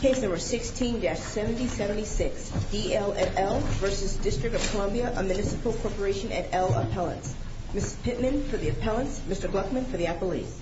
Case number 16-7076, DL et al. v. District of Columbia, a Municipal Corporation et al. appellants. Ms. Pittman for the appellants, Mr. Gluckman for the appellees. Mr. Gluckman for the appellants, Mr. Gluckman for the appellants.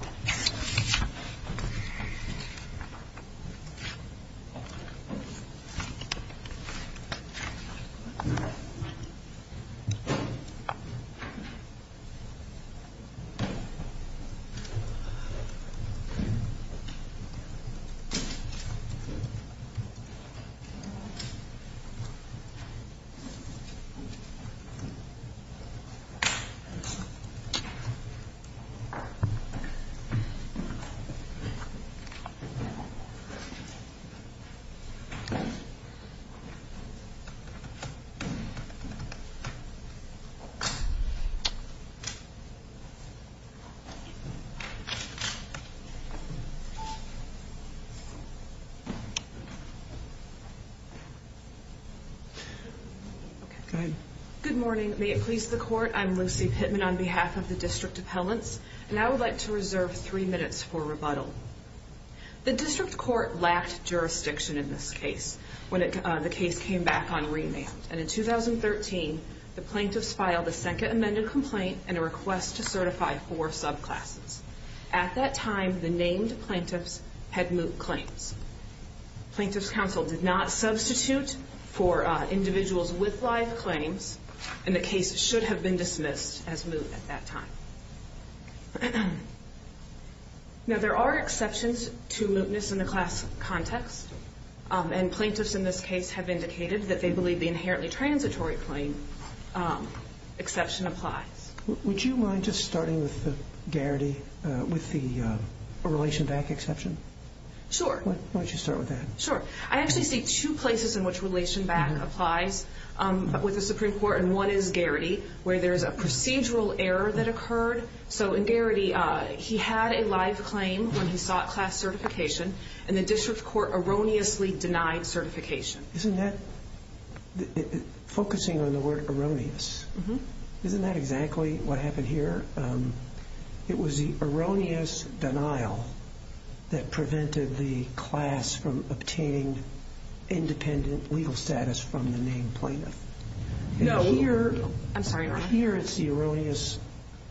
Good morning. May it please the court, I'm Lucy Pittman on behalf of the district appellants. And I would like to reserve three minutes for rebuttal. The district court lacked jurisdiction in this case when the case came back on remand. And in 2013, the plaintiffs filed a second amended complaint and a request to certify four subclasses. At that time, the named plaintiffs had moot claims. Plaintiffs' counsel did not substitute for individuals with live claims. And the case should have been dismissed as moot at that time. Now, there are exceptions to mootness in the class context. And plaintiffs in this case have indicated that they believe the inherently transitory claim exception applies. Would you mind just starting with the Garrity, with the Relation Back exception? Sure. Why don't you start with that? Sure. I actually see two places in which Relation Back applies with the Supreme Court. And one is Garrity, where there is a procedural error that occurred. So in Garrity, he had a live claim when he sought class certification. And the district court erroneously denied certification. Isn't that, focusing on the word erroneous, isn't that exactly what happened here? It was the erroneous denial that prevented the class from obtaining independent legal status from the named plaintiff. No. I'm sorry, Your Honor. Here, it's the erroneous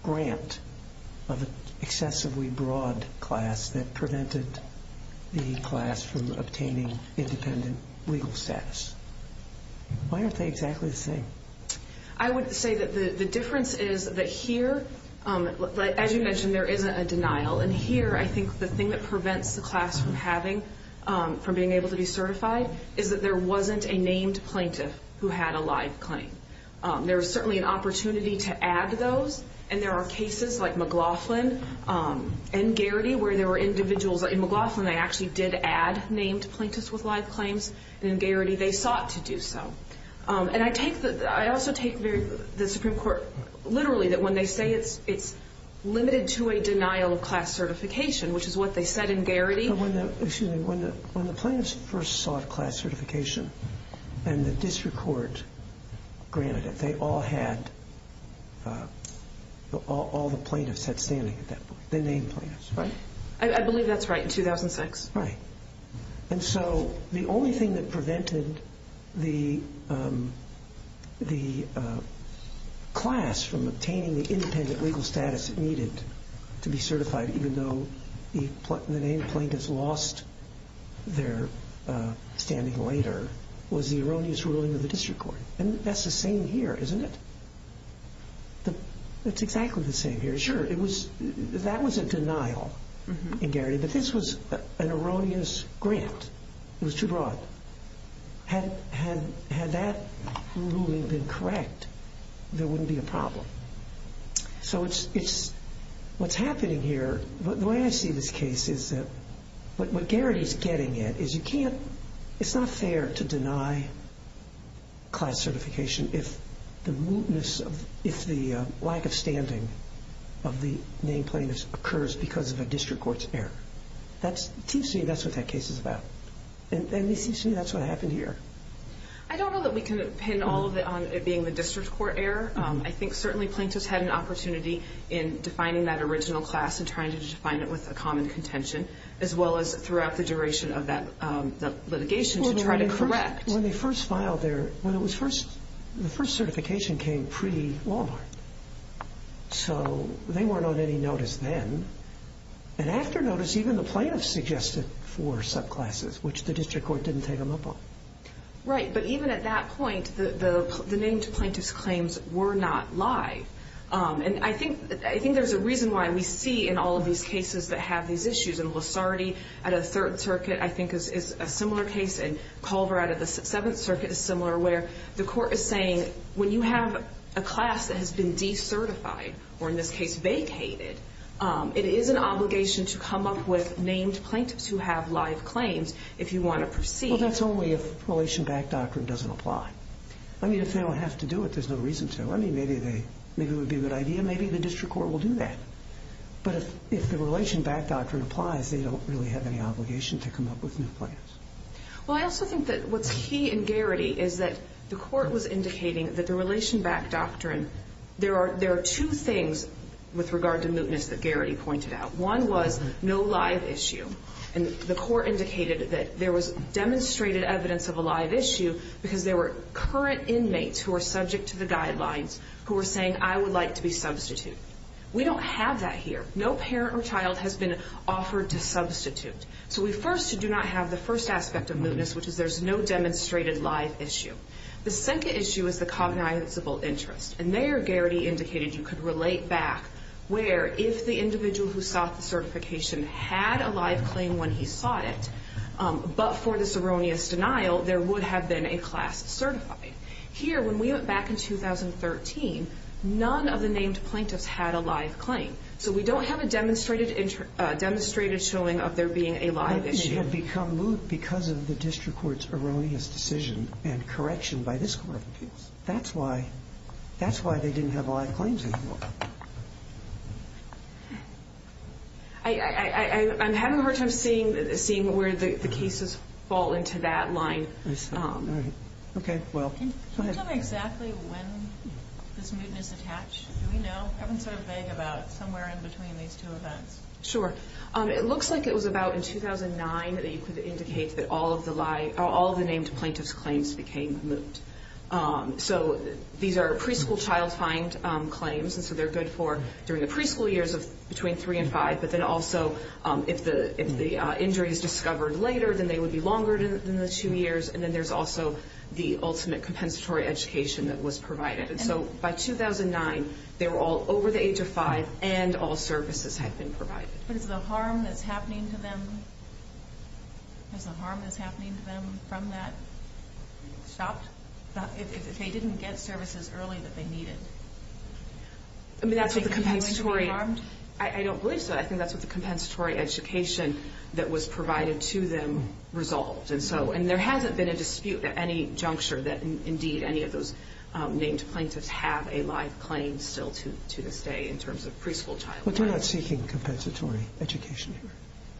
grant of an excessively broad class that prevented the class from obtaining independent legal status. Why aren't they exactly the same? I would say that the difference is that here, as you mentioned, there isn't a denial. And here, I think the thing that prevents the class from having, from being able to be certified, is that there wasn't a named plaintiff who had a live claim. There was certainly an opportunity to add those. And there are cases like McLaughlin and Garrity where there were individuals. In McLaughlin, they actually did add named plaintiffs with live claims. And in Garrity, they sought to do so. And I also take the Supreme Court literally that when they say it's limited to a denial of class certification, which is what they said in Garrity. When the plaintiffs first sought class certification and the district court granted it, they all had, all the plaintiffs had standing at that point, the named plaintiffs, right? I believe that's right, in 2006. Right. And so the only thing that prevented the class from obtaining the independent legal status it needed to be certified, even though the named plaintiffs lost their standing later, was the erroneous ruling of the district court. And that's the same here, isn't it? It's exactly the same here. Sure, that was a denial in Garrity, but this was an erroneous grant. It was too broad. Had that ruling been correct, there wouldn't be a problem. So what's happening here, the way I see this case is that what Garrity is getting at is you can't, it's not fair to deny class certification if the lack of standing of the named plaintiffs occurs because of a district court's error. It seems to me that's what that case is about. And it seems to me that's what happened here. I don't know that we can pin all of it on it being the district court error. I think certainly plaintiffs had an opportunity in defining that original class and trying to define it with a common contention, as well as throughout the duration of that litigation to try to correct. When they first filed their, when it was first, the first certification came pre-Walmart. So they weren't on any notice then. And after notice, even the plaintiffs suggested four subclasses, which the district court didn't take them up on. Right. But even at that point, the named plaintiffs' claims were not live. And I think there's a reason why we see in all of these cases that have these issues. And Losardi at a Third Circuit I think is a similar case, and Culver at a Seventh Circuit is similar, where the court is saying when you have a class that has been decertified, or in this case vacated, it is an obligation to come up with named plaintiffs who have live claims if you want to proceed. Well, that's only if relation-backed doctrine doesn't apply. I mean, if they don't have to do it, there's no reason to. I mean, maybe they, maybe it would be a good idea. Maybe the district court will do that. But if the relation-backed doctrine applies, they don't really have any obligation to come up with named plaintiffs. Well, I also think that what's key in Garrity is that the court was indicating that the relation-backed doctrine, there are two things with regard to mootness that Garrity pointed out. One was no live issue. And the court indicated that there was demonstrated evidence of a live issue because there were current inmates who were subject to the guidelines who were saying, I would like to be substituted. We don't have that here. No parent or child has been offered to substitute. So we first do not have the first aspect of mootness, which is there's no demonstrated live issue. The second issue is the cognizable interest. And there, Garrity indicated you could relate back where, if the individual who sought the certification had a live claim when he sought it, but for this erroneous denial, there would have been a class certifying. Here, when we went back in 2013, none of the named plaintiffs had a live claim. So we don't have a demonstrated showing of there being a live issue. They had become moot because of the district court's erroneous decision and correction by this court of appeals. That's why they didn't have live claims anymore. I'm having a hard time seeing where the cases fall into that line. Okay. Can you tell me exactly when this mootness attached? Do we know? I've been sort of vague about somewhere in between these two events. Sure. It looks like it was about in 2009 that you could indicate that all of the named plaintiffs' claims became moot. So these are preschool child find claims, and so they're good for during the preschool years between three and five. But then also, if the injury is discovered later, then they would be longer than the two years. And then there's also the ultimate compensatory education that was provided. And so by 2009, they were all over the age of five, and all services had been provided. But is the harm that's happening to them from that stopped? If they didn't get services early that they needed, do you think that went to be harmed? I don't believe so. I think that's what the compensatory education that was provided to them resolved. And there hasn't been a dispute at any juncture that, indeed, any of those named plaintiffs have a live claim still to this day in terms of preschool child claims. But they're not seeking compensatory education here.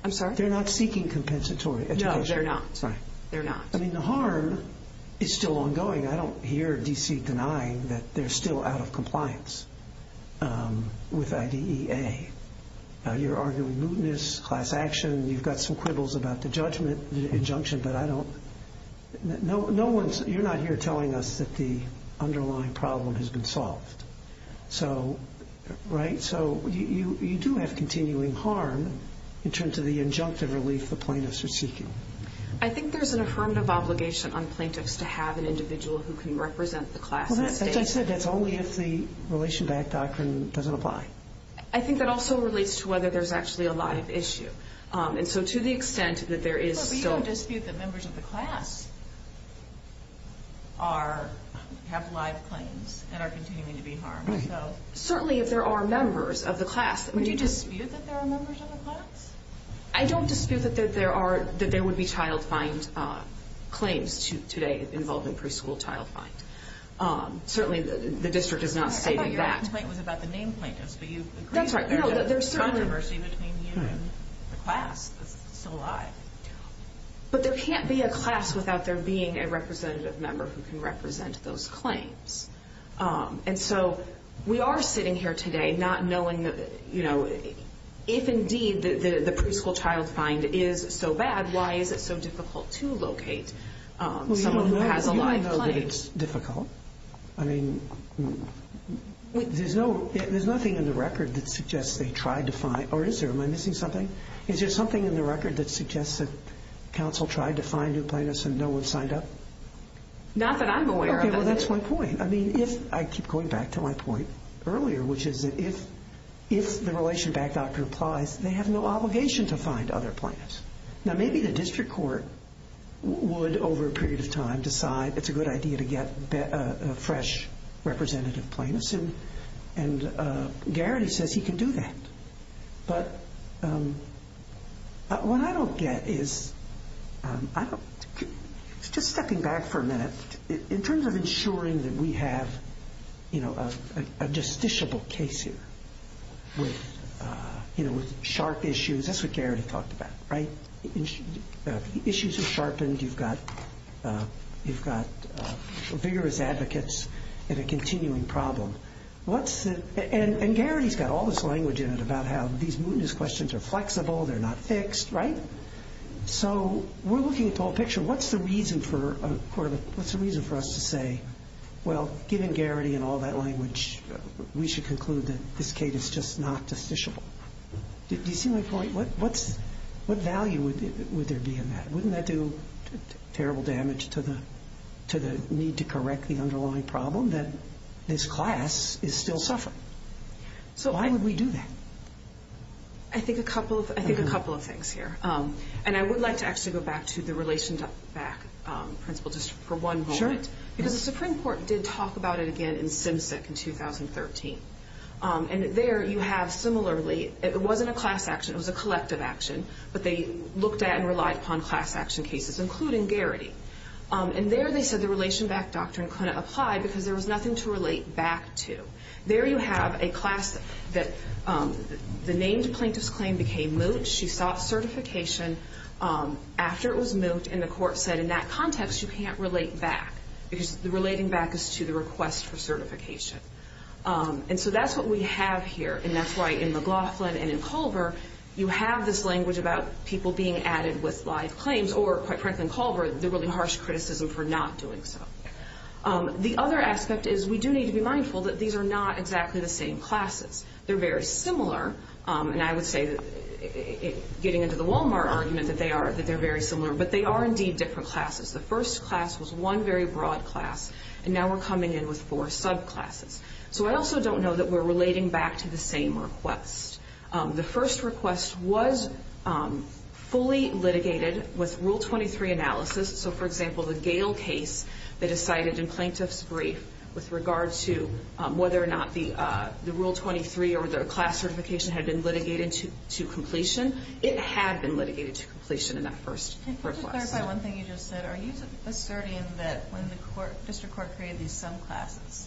I'm sorry? They're not seeking compensatory education. No, they're not. Sorry. They're not. I mean, the harm is still ongoing. I don't hear D.C. denying that they're still out of compliance with IDEA. You're arguing mootness, class action. You've got some quibbles about the injunction, but I don't. You're not here telling us that the underlying problem has been solved. Right? So you do have continuing harm in terms of the injunctive relief the plaintiffs are seeking. I think there's an affirmative obligation on plaintiffs to have an individual who can represent the class in that state. As I said, that's only if the Relation to Act doctrine doesn't apply. I think that also relates to whether there's actually a live issue. And so to the extent that there is still – But we don't dispute that members of the class have live claims and are continuing to be harmed. Certainly, if there are members of the class. Do you dispute that there are members of the class? I don't dispute that there would be child find claims today involving preschool child find. Certainly, the district is not stating that. I thought your complaint was about the named plaintiffs. That's right. There's controversy between you and the class that's still alive. But there can't be a class without there being a representative member who can represent those claims. And so we are sitting here today not knowing that, you know, if indeed the preschool child find is so bad, why is it so difficult to locate someone who has a live claim? You don't know that it's difficult. I mean, there's nothing in the record that suggests they tried to find – or is there? Am I missing something? Is there something in the record that suggests that Not that I'm aware of. Okay, well, that's my point. I mean, if – I keep going back to my point earlier, which is that if the relation back doctor applies, they have no obligation to find other plaintiffs. Now, maybe the district court would, over a period of time, decide it's a good idea to get a fresh representative plaintiff. And Garrity says he can do that. But what I don't get is – just stepping back for a minute. In terms of ensuring that we have a justiciable case here with sharp issues, that's what Garrity talked about, right? Issues are sharpened. You've got vigorous advocates and a continuing problem. And Garrity's got all this language in it about how these mootness questions are flexible, they're not fixed, right? So we're looking at the whole picture. What's the reason for us to say, well, given Garrity and all that language, we should conclude that this case is just not justiciable? Do you see my point? What value would there be in that? Wouldn't that do terrible damage to the need to correct the underlying problem that this class is still suffering? Why would we do that? I think a couple of things here. And I would like to actually go back to the relation-back principle just for one moment. Because the Supreme Court did talk about it again in Simcic in 2013. And there you have similarly – it wasn't a class action. It was a collective action. But they looked at and relied upon class-action cases, including Garrity. And there they said the relation-back doctrine couldn't apply because there was nothing to relate back to. There you have a class that the named plaintiff's claim became moot. She sought certification after it was moot, and the court said in that context you can't relate back because relating back is to the request for certification. And so that's what we have here. And that's why in McLaughlin and in Culver you have this language about people being added with live claims. Or, quite frankly in Culver, the really harsh criticism for not doing so. The other aspect is we do need to be mindful that these are not exactly the same classes. They're very similar. And I would say, getting into the Walmart argument, that they are very similar. But they are indeed different classes. The first class was one very broad class, and now we're coming in with four subclasses. So I also don't know that we're relating back to the same request. The first request was fully litigated with Rule 23 analysis. So, for example, the Gale case that is cited in plaintiff's brief with regard to whether or not the Rule 23 or the class certification had been litigated to completion. It had been litigated to completion in that first request. Can I just clarify one thing you just said? Are you asserting that when the district court created these subclasses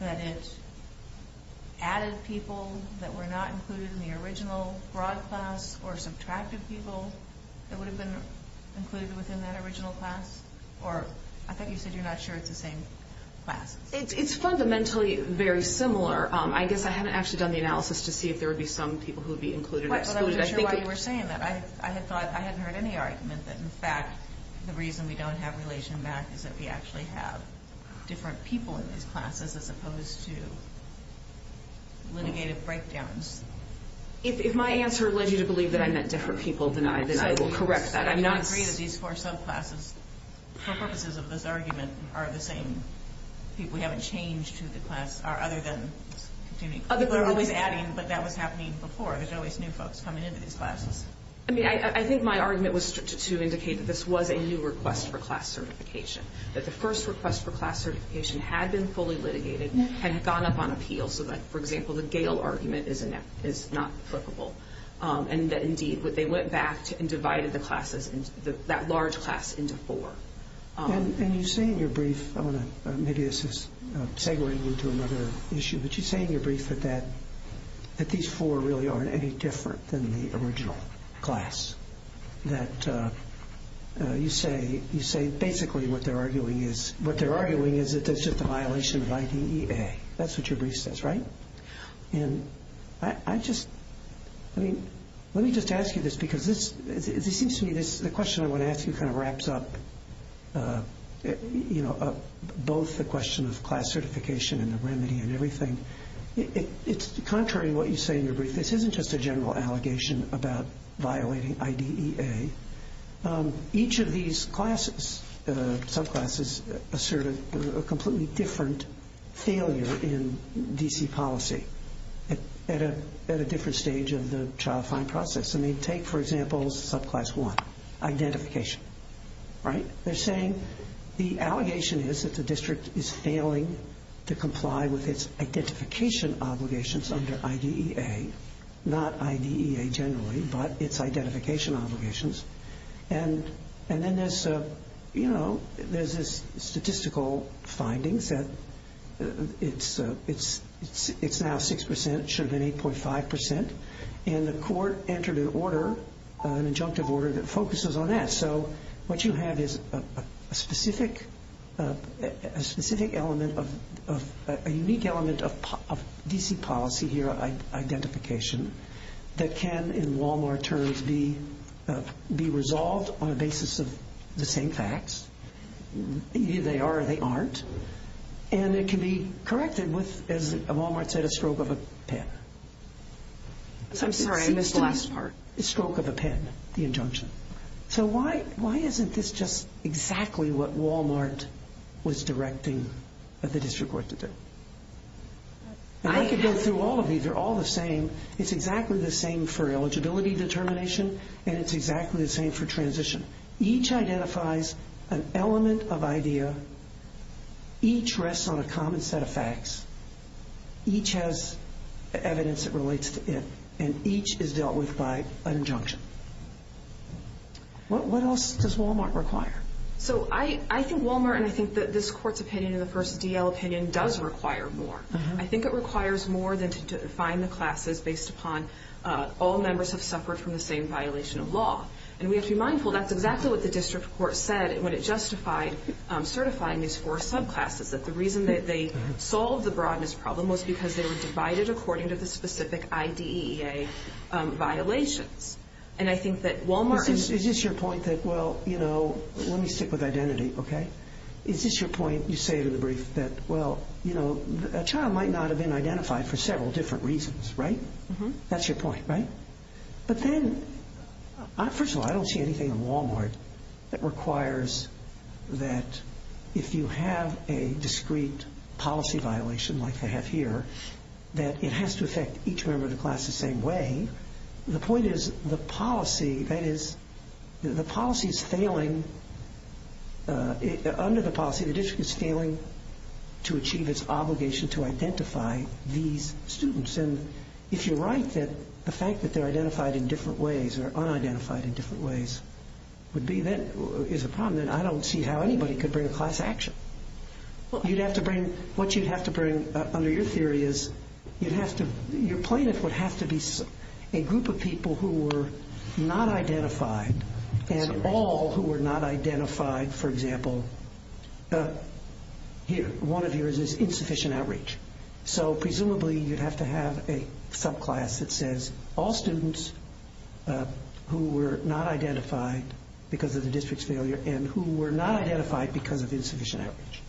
that it added people that were not included in the original broad class or subtracted people that would have been included within that original class? Or, I thought you said you're not sure it's the same classes. It's fundamentally very similar. I guess I haven't actually done the analysis to see if there would be some people who would be included or excluded. I'm not sure why you were saying that. I had thought, I hadn't heard any argument that, in fact, the reason we don't have relation back is that we actually have different people in these classes as opposed to litigated breakdowns. If my answer led you to believe that I meant different people than I, then I will correct that. I'm not saying that these four subclasses, for purposes of this argument, are the same people. We haven't changed who the classes are other than people are always adding, but that was happening before. There's always new folks coming into these classes. I think my argument was to indicate that this was a new request for class certification, that the first request for class certification had been fully litigated, had gone up on appeal, so that, for example, the Gale argument is not applicable, and that, indeed, they went back and divided that large class into four. And you say in your brief, maybe this is segueing into another issue, but you say in your brief that these four really aren't any different than the original class, that you say basically what they're arguing is that there's just a violation of IDEA. That's what your brief says, right? And I just, I mean, let me just ask you this because this seems to me, the question I want to ask you kind of wraps up both the question of class certification and the remedy and everything. It's contrary to what you say in your brief. This isn't just a general allegation about violating IDEA. Each of these classes, subclasses, assert a completely different failure in D.C. policy at a different stage of the child-fine process. I mean, take, for example, subclass one, identification, right? They're saying the allegation is that the district is failing to comply with its identification obligations under IDEA, not IDEA generally, but its identification obligations. And then there's, you know, there's this statistical findings that it's now 6%, should have been 8.5%, and the court entered an order, an injunctive order, that focuses on that. And so what you have is a specific element of, a unique element of D.C. policy here, identification, that can, in Walmart terms, be resolved on the basis of the same facts. Either they are or they aren't. And it can be corrected with, as Walmart said, a stroke of a pen. I'm sorry, I missed the last part. A stroke of a pen, the injunction. So why isn't this just exactly what Walmart was directing the district court to do? I could go through all of these. They're all the same. It's exactly the same for eligibility determination, and it's exactly the same for transition. Each identifies an element of IDEA. Each rests on a common set of facts. Each has evidence that relates to it, and each is dealt with by an injunction. What else does Walmart require? So I think Walmart, and I think that this court's opinion in the first D.L. opinion, does require more. I think it requires more than to define the classes based upon all members have suffered from the same violation of law. And we have to be mindful that's exactly what the district court said when it justified certifying these four subclasses, that the reason that they solved the broadness problem was because they were divided according to the specific IDEA violations. And I think that Walmart- Is this your point that, well, you know, let me stick with identity, okay? Is this your point, you say it in the brief, that, well, you know, a child might not have been identified for several different reasons, right? That's your point, right? But then, first of all, I don't see anything in Walmart that requires that if you have a discrete policy violation like they have here, that it has to affect each member of the class the same way. The point is the policy, that is, the policy is failing. Under the policy, the district is failing to achieve its obligation to identify these students. And if you're right that the fact that they're identified in different ways or unidentified in different ways would be then- is a problem, then I don't see how anybody could bring a class action. You'd have to bring- what you'd have to bring under your theory is you'd have to- your plaintiff would have to be a group of people who were not identified and all who were not identified, for example, one of yours is insufficient outreach. So presumably you'd have to have a subclass that says all students who were not identified because of the district's failure and who were not identified because of insufficient outreach.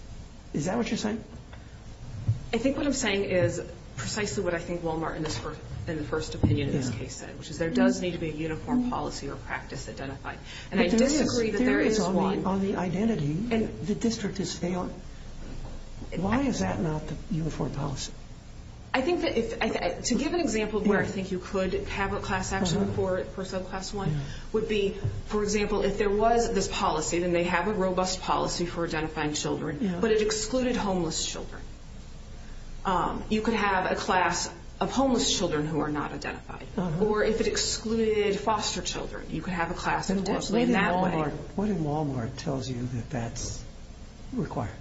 Is that what you're saying? I think what I'm saying is precisely what I think Walmart in the first opinion in this case said, which is there does need to be a uniform policy or practice identified. And I disagree that there is one. And the district is failing. Why is that not the uniform policy? I think that if- to give an example where I think you could have a class action for subclass one would be, for example, if there was this policy, then they have a robust policy for identifying children, but it excluded homeless children. You could have a class of homeless children who are not identified. Or if it excluded foster children, you could have a class- What in Walmart tells you that that's required?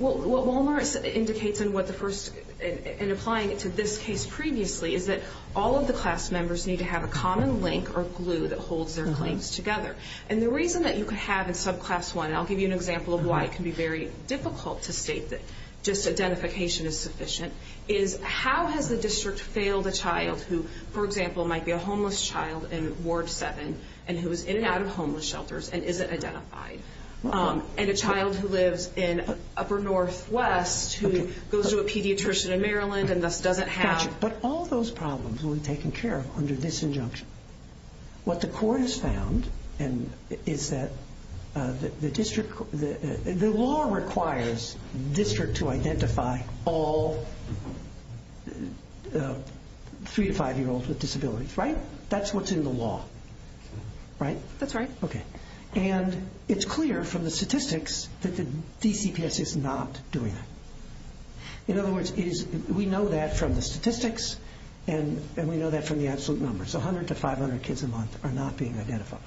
Well, what Walmart indicates in what the first- in applying it to this case previously is that all of the class members need to have a common link or glue that holds their claims together. And the reason that you could have in subclass one, and I'll give you an example of why it can be very difficult to state that just identification is sufficient, is how has the district failed a child who, for example, might be a homeless child in Ward 7 and who is in and out of homeless shelters and isn't identified? And a child who lives in Upper Northwest who goes to a pediatrician in Maryland and thus doesn't have- But all those problems will be taken care of under this injunction. What the court has found is that the district- the law requires the district to identify all three- to five-year-olds with disabilities, right? That's what's in the law, right? That's right. Okay. And it's clear from the statistics that the DCPS is not doing that. In other words, we know that from the statistics and we know that from the absolute numbers. So 100 to 500 kids a month are not being identified.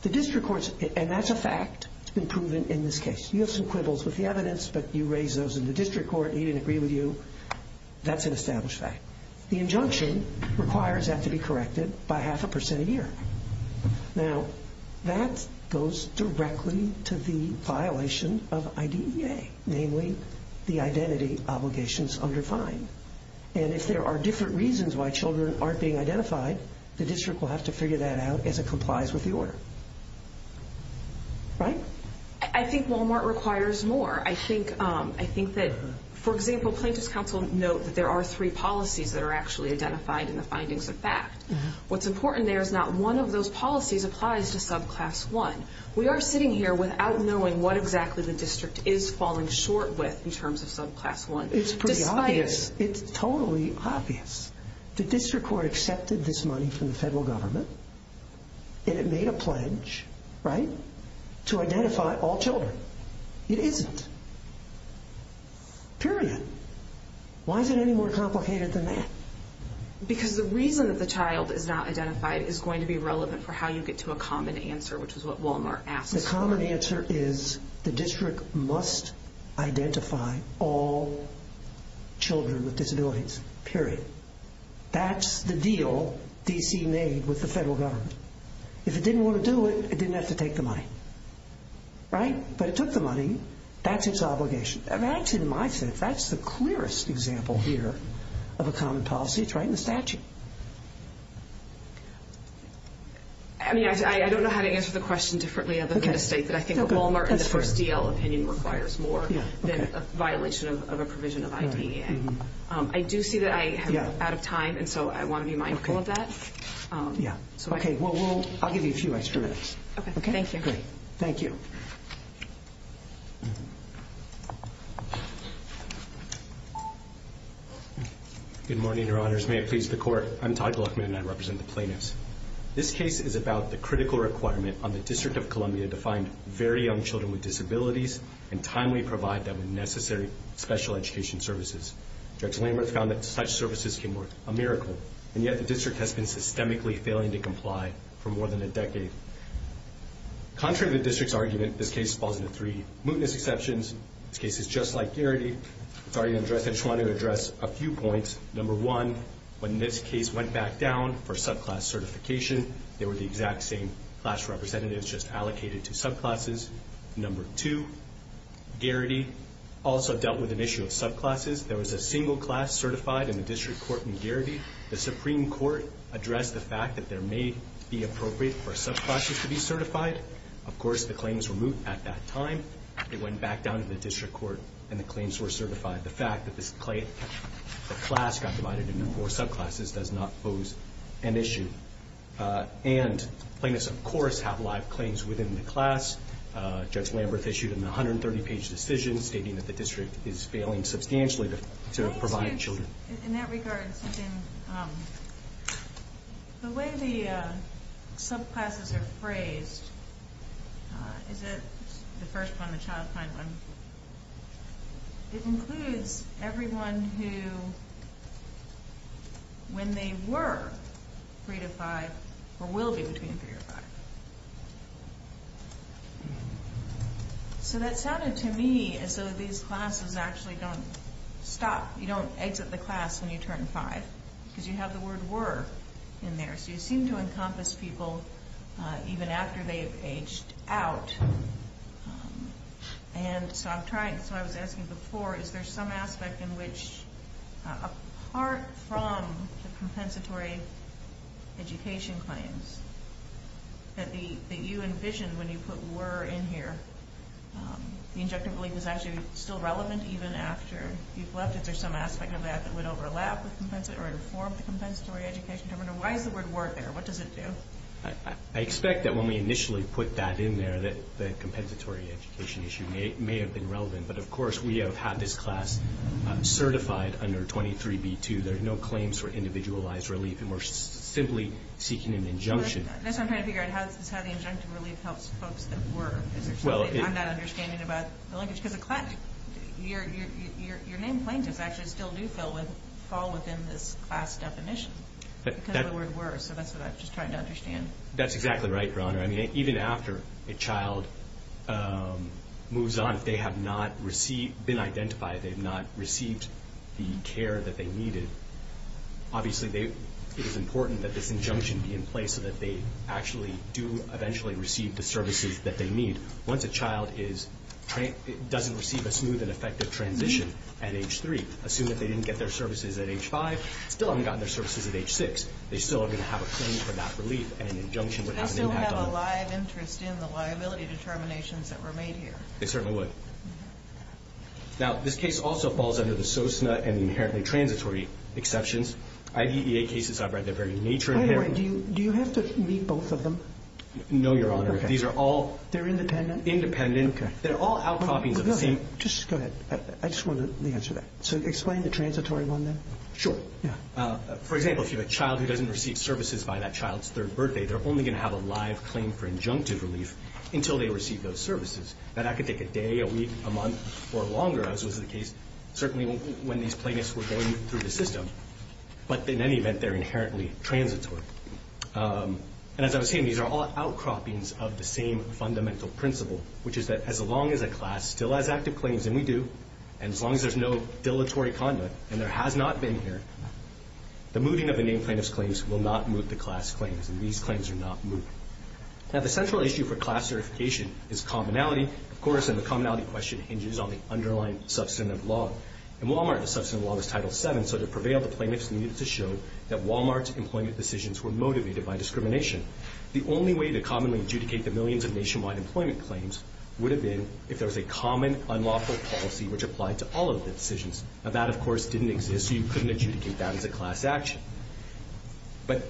The district courts- and that's a fact. It's been proven in this case. You have some quibbles with the evidence, but you raise those in the district court. He didn't agree with you. That's an established fact. The injunction requires that to be corrected by half a percent a year. Now, that goes directly to the violation of IDEA, namely the identity obligations under fine. And if there are different reasons why children aren't being identified, the district will have to figure that out as it complies with the order. Right? I think Walmart requires more. I think that, for example, plaintiffs' counsel note that there are three policies that are actually identified in the findings of fact. What's important there is not one of those policies applies to subclass one. We are sitting here without knowing what exactly the district is falling short with in terms of subclass one. It's pretty obvious. It's totally obvious. The district court accepted this money from the federal government and it made a pledge, right, to identify all children. It isn't. Period. Why is it any more complicated than that? Because the reason that the child is not identified is going to be relevant for how you get to a common answer, which is what Walmart asks for. The common answer is the district must identify all children with disabilities. Period. That's the deal D.C. made with the federal government. If it didn't want to do it, it didn't have to take the money. Right? But it took the money. That's its obligation. Actually, in my sense, that's the clearest example here of a common policy. It's right in the statute. I don't know how to answer the question differently other than to state that I think a Walmart in the first D.L. opinion requires more than a violation of a provision of IDEA. I do see that I am out of time, and so I want to be mindful of that. I'll give you a few extra minutes. Okay. Great. Thank you. Good morning, Your Honors. May it please the Court. I'm Todd Gluckman, and I represent the plaintiffs. This case is about the critical requirement on the District of Columbia to find very young children with disabilities and timely provide them with necessary special education services. Judge Lambert found that such services can work a miracle, and yet the district has been systemically failing to comply for more than a decade. Contrary to the district's argument, this case falls into three mootness exceptions. This case is just like Garrity. I just want to address a few points. Number one, when this case went back down for subclass certification, they were the exact same class representatives just allocated to subclasses. Number two, Garrity also dealt with an issue of subclasses. If there was a single class certified in the district court in Garrity, the Supreme Court addressed the fact that there may be appropriate for subclasses to be certified. Of course, the claims were moot at that time. It went back down to the district court, and the claims were certified. The fact that the class got divided into four subclasses does not pose an issue. And plaintiffs, of course, have live claims within the class. Judge Lamberth issued a 130-page decision stating that the district is failing substantially to provide children. In that regard, the way the subclasses are phrased, is it the first one, the child-kind one, it includes everyone who, when they were 3-5, or will be between 3-5. So that sounded to me as though these classes actually don't stop. You don't exit the class when you turn 5, because you have the word were in there. So you seem to encompass people even after they've aged out. And so I was asking before, is there some aspect in which, apart from the compensatory education claims that you envisioned when you put were in here, the injunctive belief is actually still relevant even after you've left? Is there some aspect of that that would overlap or inform the compensatory education? Why is the word were there? What does it do? Well, I expect that when we initially put that in there, that the compensatory education issue may have been relevant. But of course, we have had this class certified under 23b-2. There are no claims for individualized relief, and we're simply seeking an injunction. That's what I'm trying to figure out, is how the injunctive relief helps folks that were. I'm not understanding about the linkage. Because your name plaintiffs actually still do fall within this class definition, because of the word were. So that's what I'm just trying to understand. That's exactly right, Your Honor. I mean, even after a child moves on, if they have not been identified, they have not received the care that they needed, obviously it is important that this injunction be in place so that they actually do eventually receive the services that they need. Once a child doesn't receive a smooth and effective transition at age 3, assume that they didn't get their services at age 5, still haven't gotten their services at age 6, they still are going to have a claim for that relief, and an injunction would have an impact on them. Do they still have a live interest in the liability determinations that were made here? They certainly would. Now, this case also falls under the SOSNA and the inherently transitory exceptions. IDEA cases are by their very nature inherently. Wait a minute. Do you have to meet both of them? No, Your Honor. Okay. These are all independent. Independent. Okay. They're all outcroppings of the same. Just go ahead. I just want to answer that. So explain the transitory one then. Sure. For example, if you have a child who doesn't receive services by that child's third birthday, they're only going to have a live claim for injunctive relief until they receive those services. That could take a day, a week, a month, or longer, as was the case, certainly when these plaintiffs were going through the system. But in any event, they're inherently transitory. And as I was saying, these are all outcroppings of the same fundamental principle, which is that as long as a class still has active claims, and we do, and as long as there's no dilatory conduct and there has not been here, the moving of the named plaintiff's claims will not move the class claims, and these claims are not moved. Now, the central issue for class certification is commonality, of course, and the commonality question hinges on the underlying substantive law. In Walmart, the substantive law is Title VII, so to prevail the plaintiffs needed to show that Walmart's employment decisions were motivated by discrimination. The only way to commonly adjudicate the millions of nationwide employment claims would have been if there was a common unlawful policy which applied to all of the decisions. Now, that, of course, didn't exist, so you couldn't adjudicate that as a class action. But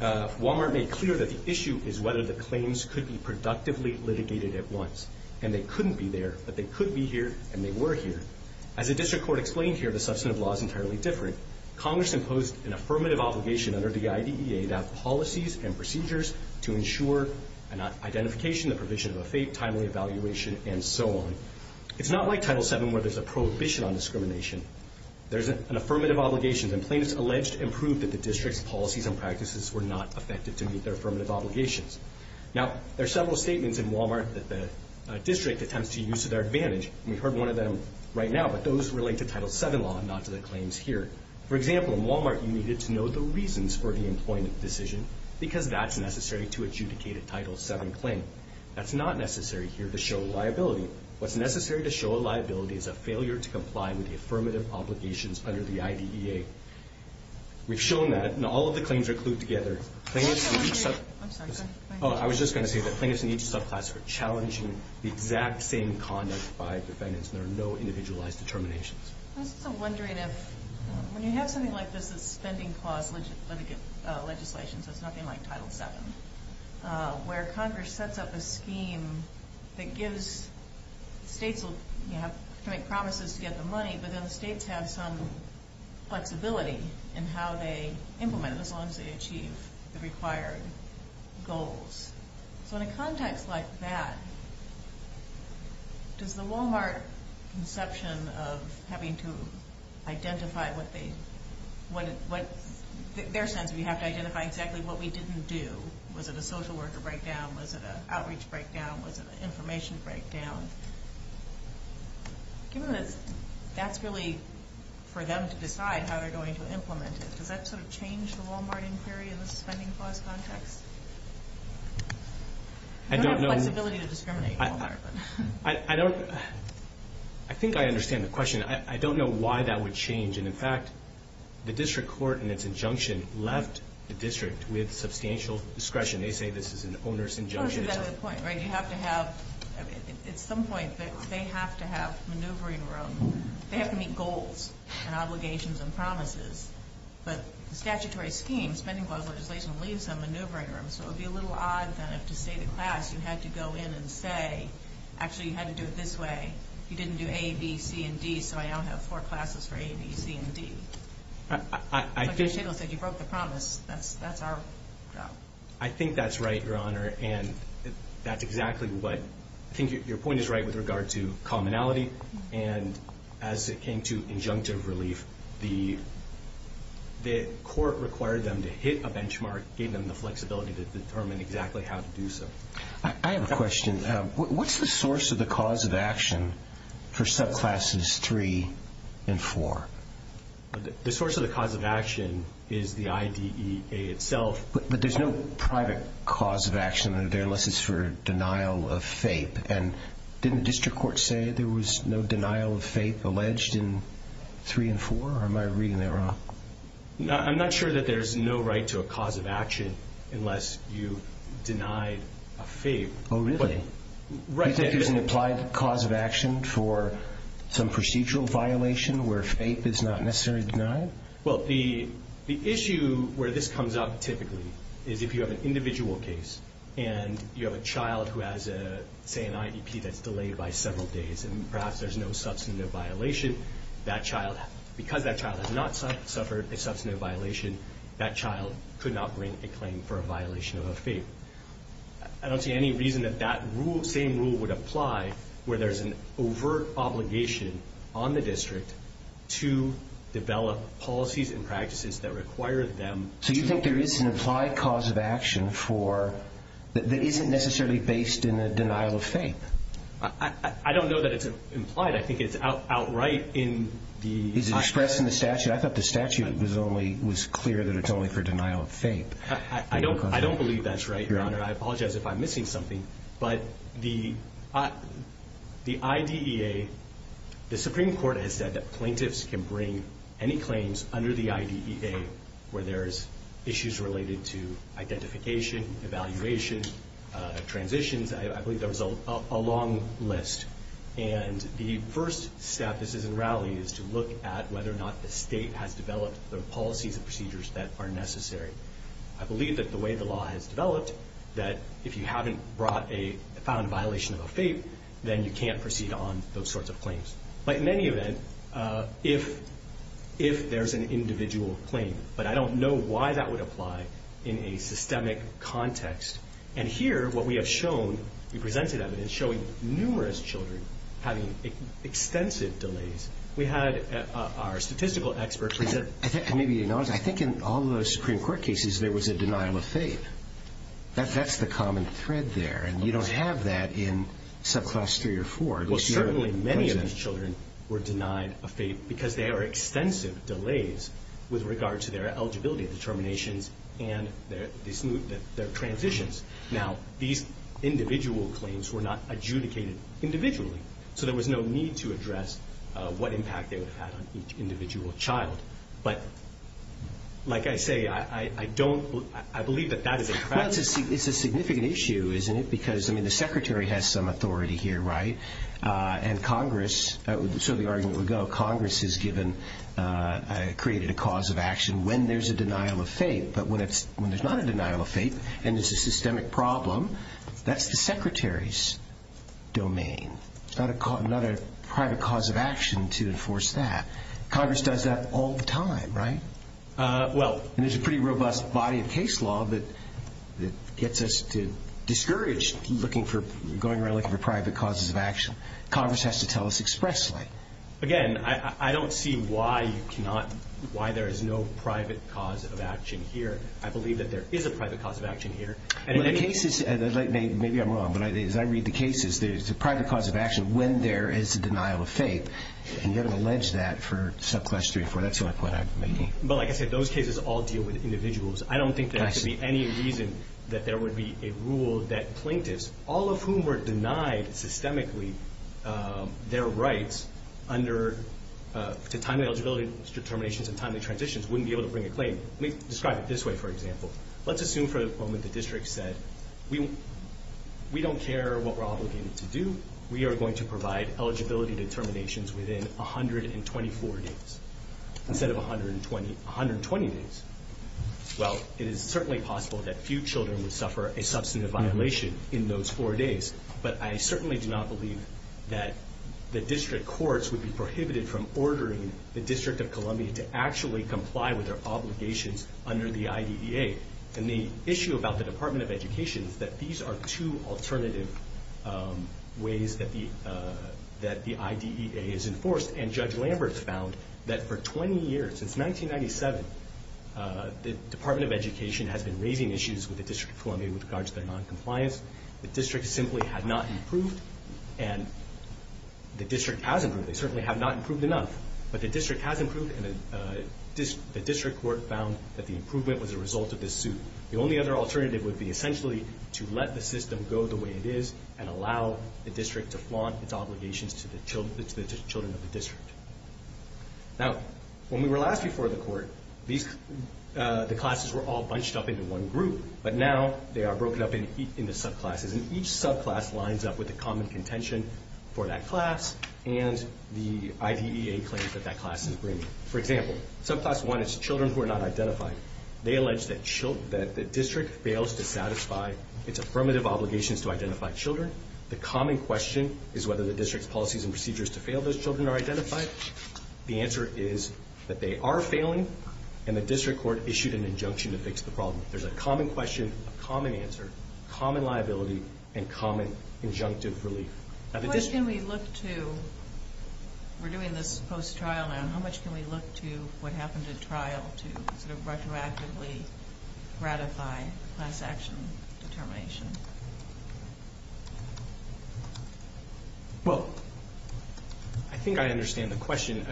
Walmart made clear that the issue is whether the claims could be productively litigated at once, and they couldn't be there, but they could be here, and they were here. As the district court explained here, the substantive law is entirely different. Congress imposed an affirmative obligation under the IDEA that policies and procedures to ensure an identification, the provision of a timely evaluation, and so on. It's not like Title VII where there's a prohibition on discrimination. There's an affirmative obligation, and plaintiffs alleged and proved that the district's policies and practices were not effective to meet their affirmative obligations. Now, there are several statements in Walmart that the district attempts to use to their advantage, and we've heard one of them right now, but those relate to Title VII law and not to the claims here. For example, in Walmart, you needed to know the reasons for the employment decision because that's necessary to adjudicate a Title VII claim. That's not necessary here to show liability. What's necessary to show liability is a failure to comply with the affirmative obligations under the IDEA. We've shown that, and all of the claims are clued together. Plaintiffs in each subclass are challenging the exact same conduct by defendants, and there are no individualized determinations. I was also wondering if when you have something like this that's spending clause legislation, so it's nothing like Title VII, where Congress sets up a scheme that gives states, you have to make promises to get the money, but then the states have some flexibility in how they implement it as long as they achieve the required goals. So in a context like that, does the Walmart conception of having to identify what they, their sense of you have to identify exactly what we didn't do, was it a social worker breakdown, was it an outreach breakdown, was it an information breakdown, given that that's really for them to decide how they're going to implement it, does that sort of change the Walmart inquiry in the spending clause context? I don't know. You don't have flexibility to discriminate in Walmart. I don't, I think I understand the question. I don't know why that would change, and in fact, the district court in its injunction left the district with substantial discretion. They say this is an onerous injunction. Well, that's a better point, right? You have to have, at some point, they have to have maneuvering room. They have to meet goals and obligations and promises, but the statutory scheme, spending clause legislation, leaves some maneuvering room, so it would be a little odd then if, to say to class, you had to go in and say, actually, you had to do it this way. You didn't do A, B, C, and D, so I now have four classes for A, B, C, and D. I think... But you broke the promise. That's our job. I think that's right, Your Honor, and that's exactly what, I think your point is right with regard to commonality, and as it came to injunctive relief, the court required them to hit a benchmark, gave them the flexibility to determine exactly how to do so. I have a question. What's the source of the cause of action for subclasses 3 and 4? The source of the cause of action is the IDEA itself. But there's no private cause of action there unless it's for denial of FAPE, and didn't the district court say there was no denial of FAPE alleged in 3 and 4, or am I reading that wrong? I'm not sure that there's no right to a cause of action unless you deny a FAPE. Oh, really? Do you think there's an implied cause of action for some procedural violation where FAPE is not necessarily denied? Well, the issue where this comes up typically is if you have an individual case and you have a child who has, say, an IDP that's delayed by several days, and perhaps there's no substantive violation, because that child has not suffered a substantive violation, that child could not bring a claim for a violation of a FAPE. I don't see any reason that that same rule would apply where there's an overt obligation on the district to develop policies and practices that require them to. So you think there is an implied cause of action that isn't necessarily based in a denial of FAPE? I don't know that it's implied. I think it's outright in the... Is it expressed in the statute? I thought the statute was clear that it's only for denial of FAPE. I don't believe that's right, Your Honor. I apologize if I'm missing something. But the IDEA, the Supreme Court has said that plaintiffs can bring any claims under the IDEA where there's issues related to identification, evaluation, transitions. I believe there was a long list. And the first step, this is in Rowley, is to look at whether or not the state has developed the policies and procedures that are necessary. I believe that the way the law has developed, that if you haven't found a violation of a FAPE, then you can't proceed on those sorts of claims. But in any event, if there's an individual claim... But I don't know why that would apply in a systemic context. And here, what we have shown, we presented evidence showing numerous children having extensive delays. We had our statistical expert... That's the common thread there. And you don't have that in subclass 3 or 4. Well, certainly many of those children were denied a FAPE because there are extensive delays with regard to their eligibility determinations and their transitions. Now, these individual claims were not adjudicated individually, so there was no need to address what impact they would have had on each individual child. But like I say, I don't... Well, it's a significant issue, isn't it? Because, I mean, the Secretary has some authority here, right? And Congress, so the argument would go, Congress has created a cause of action when there's a denial of FAPE. But when there's not a denial of FAPE and it's a systemic problem, that's the Secretary's domain. It's not a private cause of action to enforce that. Congress does that all the time, right? Well... And there's a pretty robust body of case law that gets us to discourage looking for, going around looking for private causes of action. Congress has to tell us expressly. Again, I don't see why you cannot, why there is no private cause of action here. I believe that there is a private cause of action here. And in the cases, maybe I'm wrong, but as I read the cases, there's a private cause of action when there is a denial of FAPE. And you haven't alleged that for subclass 3 or 4. So that's my point I'm making. But like I said, those cases all deal with individuals. I don't think there could be any reason that there would be a rule that plaintiffs, all of whom were denied systemically their rights under, to timely eligibility determinations and timely transitions, wouldn't be able to bring a claim. Let me describe it this way, for example. Let's assume for the moment the district said, we don't care what we're obligated to do. We are going to provide eligibility determinations within 124 days, instead of 120 days. Well, it is certainly possible that few children would suffer a substantive violation in those four days. But I certainly do not believe that the district courts would be prohibited from ordering the District of Columbia to actually comply with their obligations under the IDEA. And the issue about the Department of Education is that these are two alternative ways that the IDEA is enforced. And Judge Lambert found that for 20 years, since 1997, the Department of Education has been raising issues with the District of Columbia with regards to their noncompliance. The district simply had not improved. And the district has improved. They certainly have not improved enough. But the district has improved, and the district court found that the improvement was a result of this suit. The only other alternative would be essentially to let the system go the way it is and allow the district to flaunt its obligations to the children of the district. Now, when we were last before the court, the classes were all bunched up into one group. But now they are broken up into subclasses, and each subclass lines up with a common contention for that class and the IDEA claims that that class is bringing. For example, subclass one is children who are not identified. They allege that the district fails to satisfy its affirmative obligations to identify children. The common question is whether the district's policies and procedures to fail those children are identified. The answer is that they are failing, and the district court issued an injunction to fix the problem. There's a common question, a common answer, common liability, and common injunctive relief. How much can we look to? We're doing this post-trial now. How much can we look to what happened at trial to sort of retroactively gratify class action determination? Well, I think I understand the question.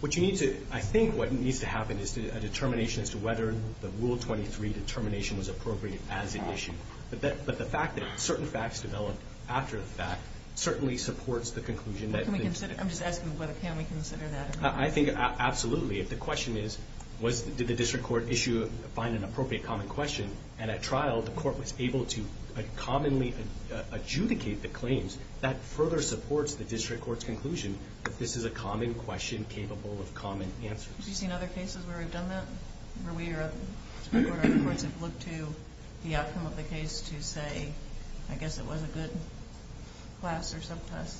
What you need to do, I think what needs to happen is a determination as to whether the Rule 23 determination was appropriate as an issue. But the fact that certain facts develop after the fact certainly supports the conclusion that the district... I'm just asking whether can we consider that. I think absolutely. If the question is did the district court issue or find an appropriate common question, and at trial the court was able to commonly adjudicate the claims, that further supports the district court's conclusion that this is a common question capable of common answers. Have you seen other cases where we've done that, where we or other courts have looked to the outcome of the case to say, I guess it was a good class or subclass?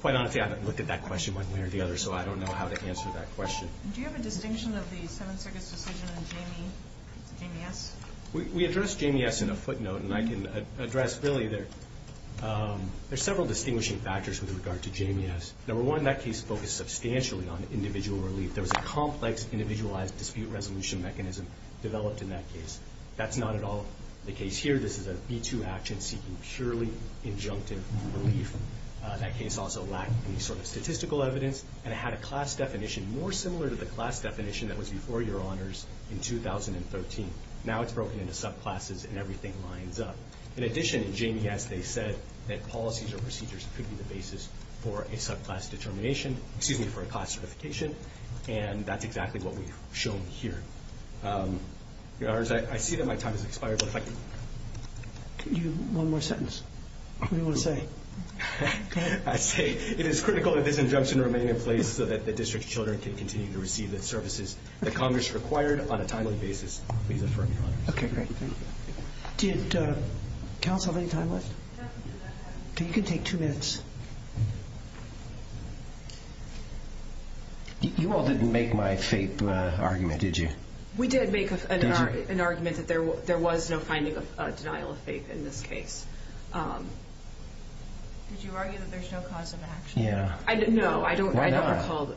Quite honestly, I haven't looked at that question one way or the other, so I don't know how to answer that question. Do you have a distinction of the Seventh Circuit's decision in JMS? We addressed JMS in a footnote, and I can address really there are several distinguishing factors with regard to JMS. Number one, that case focused substantially on individual relief. There was a complex individualized dispute resolution mechanism developed in that case. That's not at all the case here. This is a B-2 action seeking purely injunctive relief. That case also lacked any sort of statistical evidence, and it had a class definition more similar to the class definition that was before Your Honors in 2013. Now it's broken into subclasses and everything lines up. In addition, in JMS they said that policies or procedures could be the basis for a subclass determination, excuse me, for a class certification, and that's exactly what we've shown here. Your Honors, I see that my time has expired, but if I can... One more sentence. What do you want to say? I say it is critical that this injunction remain in place so that the district's children can continue to receive the services that Congress required on a timely basis. Please affirm, Your Honors. Okay, great. Did counsel have any time left? Okay, you can take two minutes. You all didn't make my FAPE argument, did you? We did make an argument that there was no finding of denial of FAPE in this case. Did you argue that there's no cause of action? Yeah. No, I don't recall. Why not?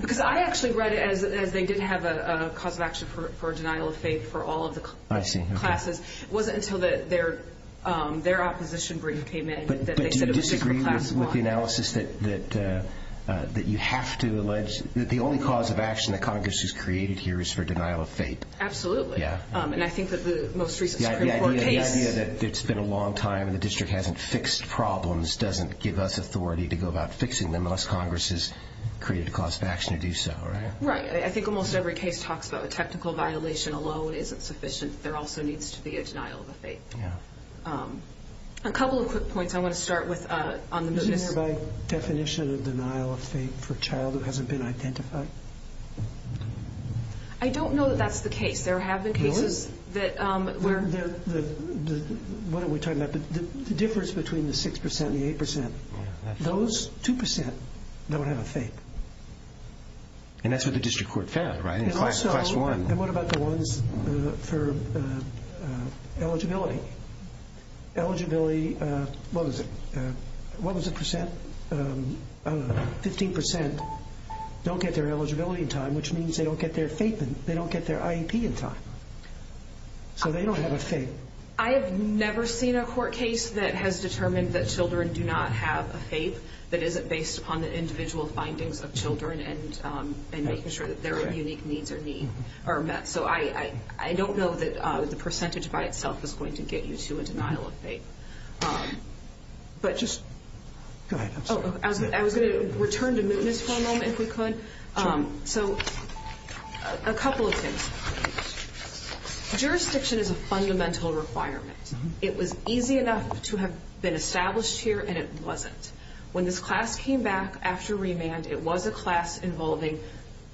Because I actually read it as they did have a cause of action for denial of FAPE for all of the classes. It wasn't until their opposition brief came out that they said it was just for class one. But do you disagree with the analysis that you have to allege that the only cause of action that Congress has created here is for denial of FAPE? Absolutely. And I think that the most recent Supreme Court case... The idea that it's been a long time and the district hasn't fixed problems doesn't give us authority to go about fixing them unless Congress has created a cause of action to do so, right? Right. I think almost every case talks about the technical violation alone isn't sufficient. There also needs to be a denial of a FAPE. A couple of quick points I want to start with on this. Isn't there by definition a denial of FAPE for a child who hasn't been identified? I don't know that that's the case. There have been cases where... What are we talking about? The difference between the 6% and the 8%. Those 2% don't have a FAPE. And that's what the district court found, right? And also, what about the ones for eligibility? Eligibility, what was it? What was it, percent? 15% don't get their eligibility in time, which means they don't get their IEP in time. So they don't have a FAPE. I have never seen a court case that has determined that children do not have a FAPE that isn't based upon the individual findings of children and making sure that their unique needs are met. So I don't know that the percentage by itself is going to get you to a denial of FAPE. But just... I was going to return to mootness for a moment, if we could. So a couple of things. Jurisdiction is a fundamental requirement. It was easy enough to have been established here, and it wasn't. When this class came back after remand, it was a class involving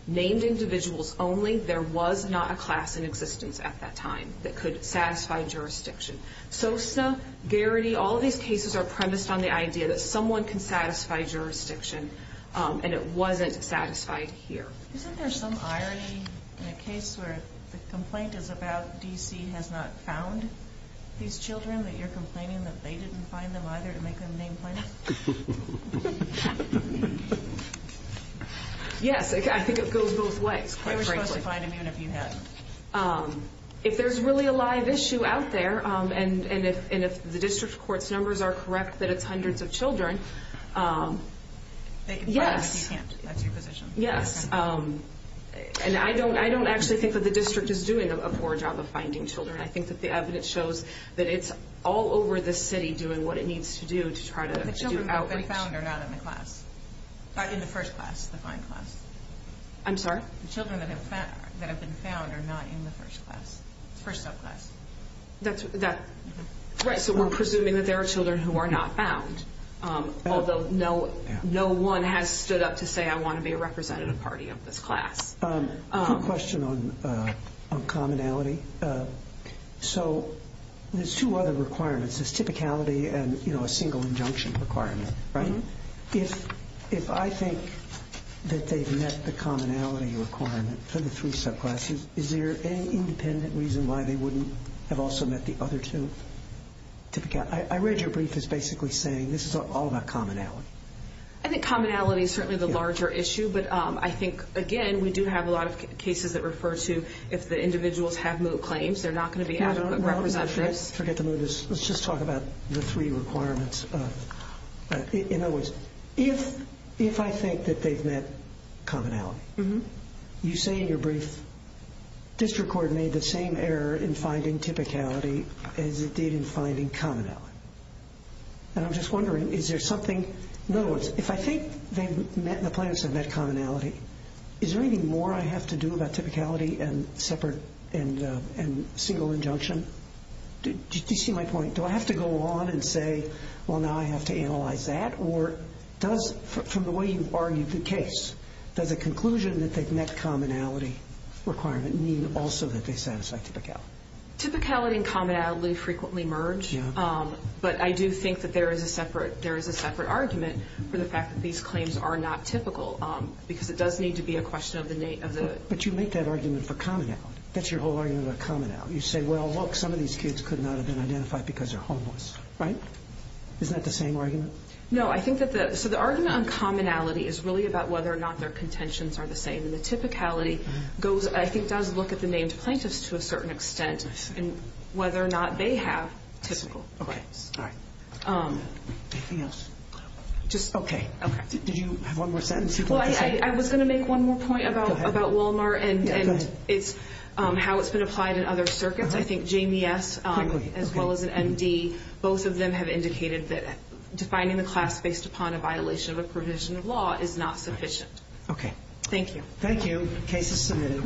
named individuals only. There was not a class in existence at that time that could satisfy jurisdiction. Sosa, Garrity, all of these cases are premised on the idea that someone can satisfy jurisdiction, and it wasn't satisfied here. Isn't there some irony in a case where the complaint is about D.C. has not found these children, that you're complaining that they didn't find them, either, and they couldn't name plaintiffs? Yes, I think it goes both ways, quite frankly. They were supposed to find them, even if you hadn't. If there's really a live issue out there, and if the district court's numbers are correct that it's hundreds of children... They can find them if you can't. That's your position. Yes. And I don't actually think that the district is doing a poor job of finding children. I think that the evidence shows that it's all over the city doing what it needs to do to try to do outreach. The children that have been found are not in the class. Not in the first class, the fine class. I'm sorry? The children that have been found are not in the first subclass. Right, so we're presuming that there are children who are not found, although no one has stood up to say, I want to be a representative party of this class. Quick question on commonality. So there's two other requirements. There's typicality and a single injunction requirement, right? If I think that they've met the commonality requirement for the three subclasses, is there any independent reason why they wouldn't have also met the other two? I read your brief as basically saying this is all about commonality. I think commonality is certainly the larger issue, but I think, again, we do have a lot of cases that refer to if the individuals have moot claims, they're not going to be adequate representatives. Forget the moot. Let's just talk about the three requirements. In other words, if I think that they've met commonality, you say in your brief district court made the same error in finding typicality as it did in finding commonality. And I'm just wondering, is there something? In other words, if I think the plaintiffs have met commonality, is there anything more I have to do about typicality and single injunction? Do you see my point? Do I have to go on and say, well, now I have to analyze that? Or from the way you've argued the case, does the conclusion that they've met commonality requirement mean also that they satisfy typicality? Typicality and commonality frequently merge, but I do think that there is a separate argument for the fact that these claims are not typical because it does need to be a question of the nature of the... But you make that argument for commonality. That's your whole argument for commonality. You say, well, look, some of these kids could not have been identified because they're homeless, right? Isn't that the same argument? No, I think that the... So the argument on commonality is really about whether or not their contentions are the same. And the typicality, I think, does look at the named plaintiffs to a certain extent and whether or not they have typical claims. Okay, all right. Anything else? Just... Okay. Did you have one more sentence you wanted to say? Well, I was going to make one more point about Walmart. Go ahead. And it's how it's been applied in other circuits. I think Jamie S. as well as an MD, both of them have indicated that defining the class based upon a violation of a provision of law is not sufficient. Okay. Thank you. Thank you. Case is submitted.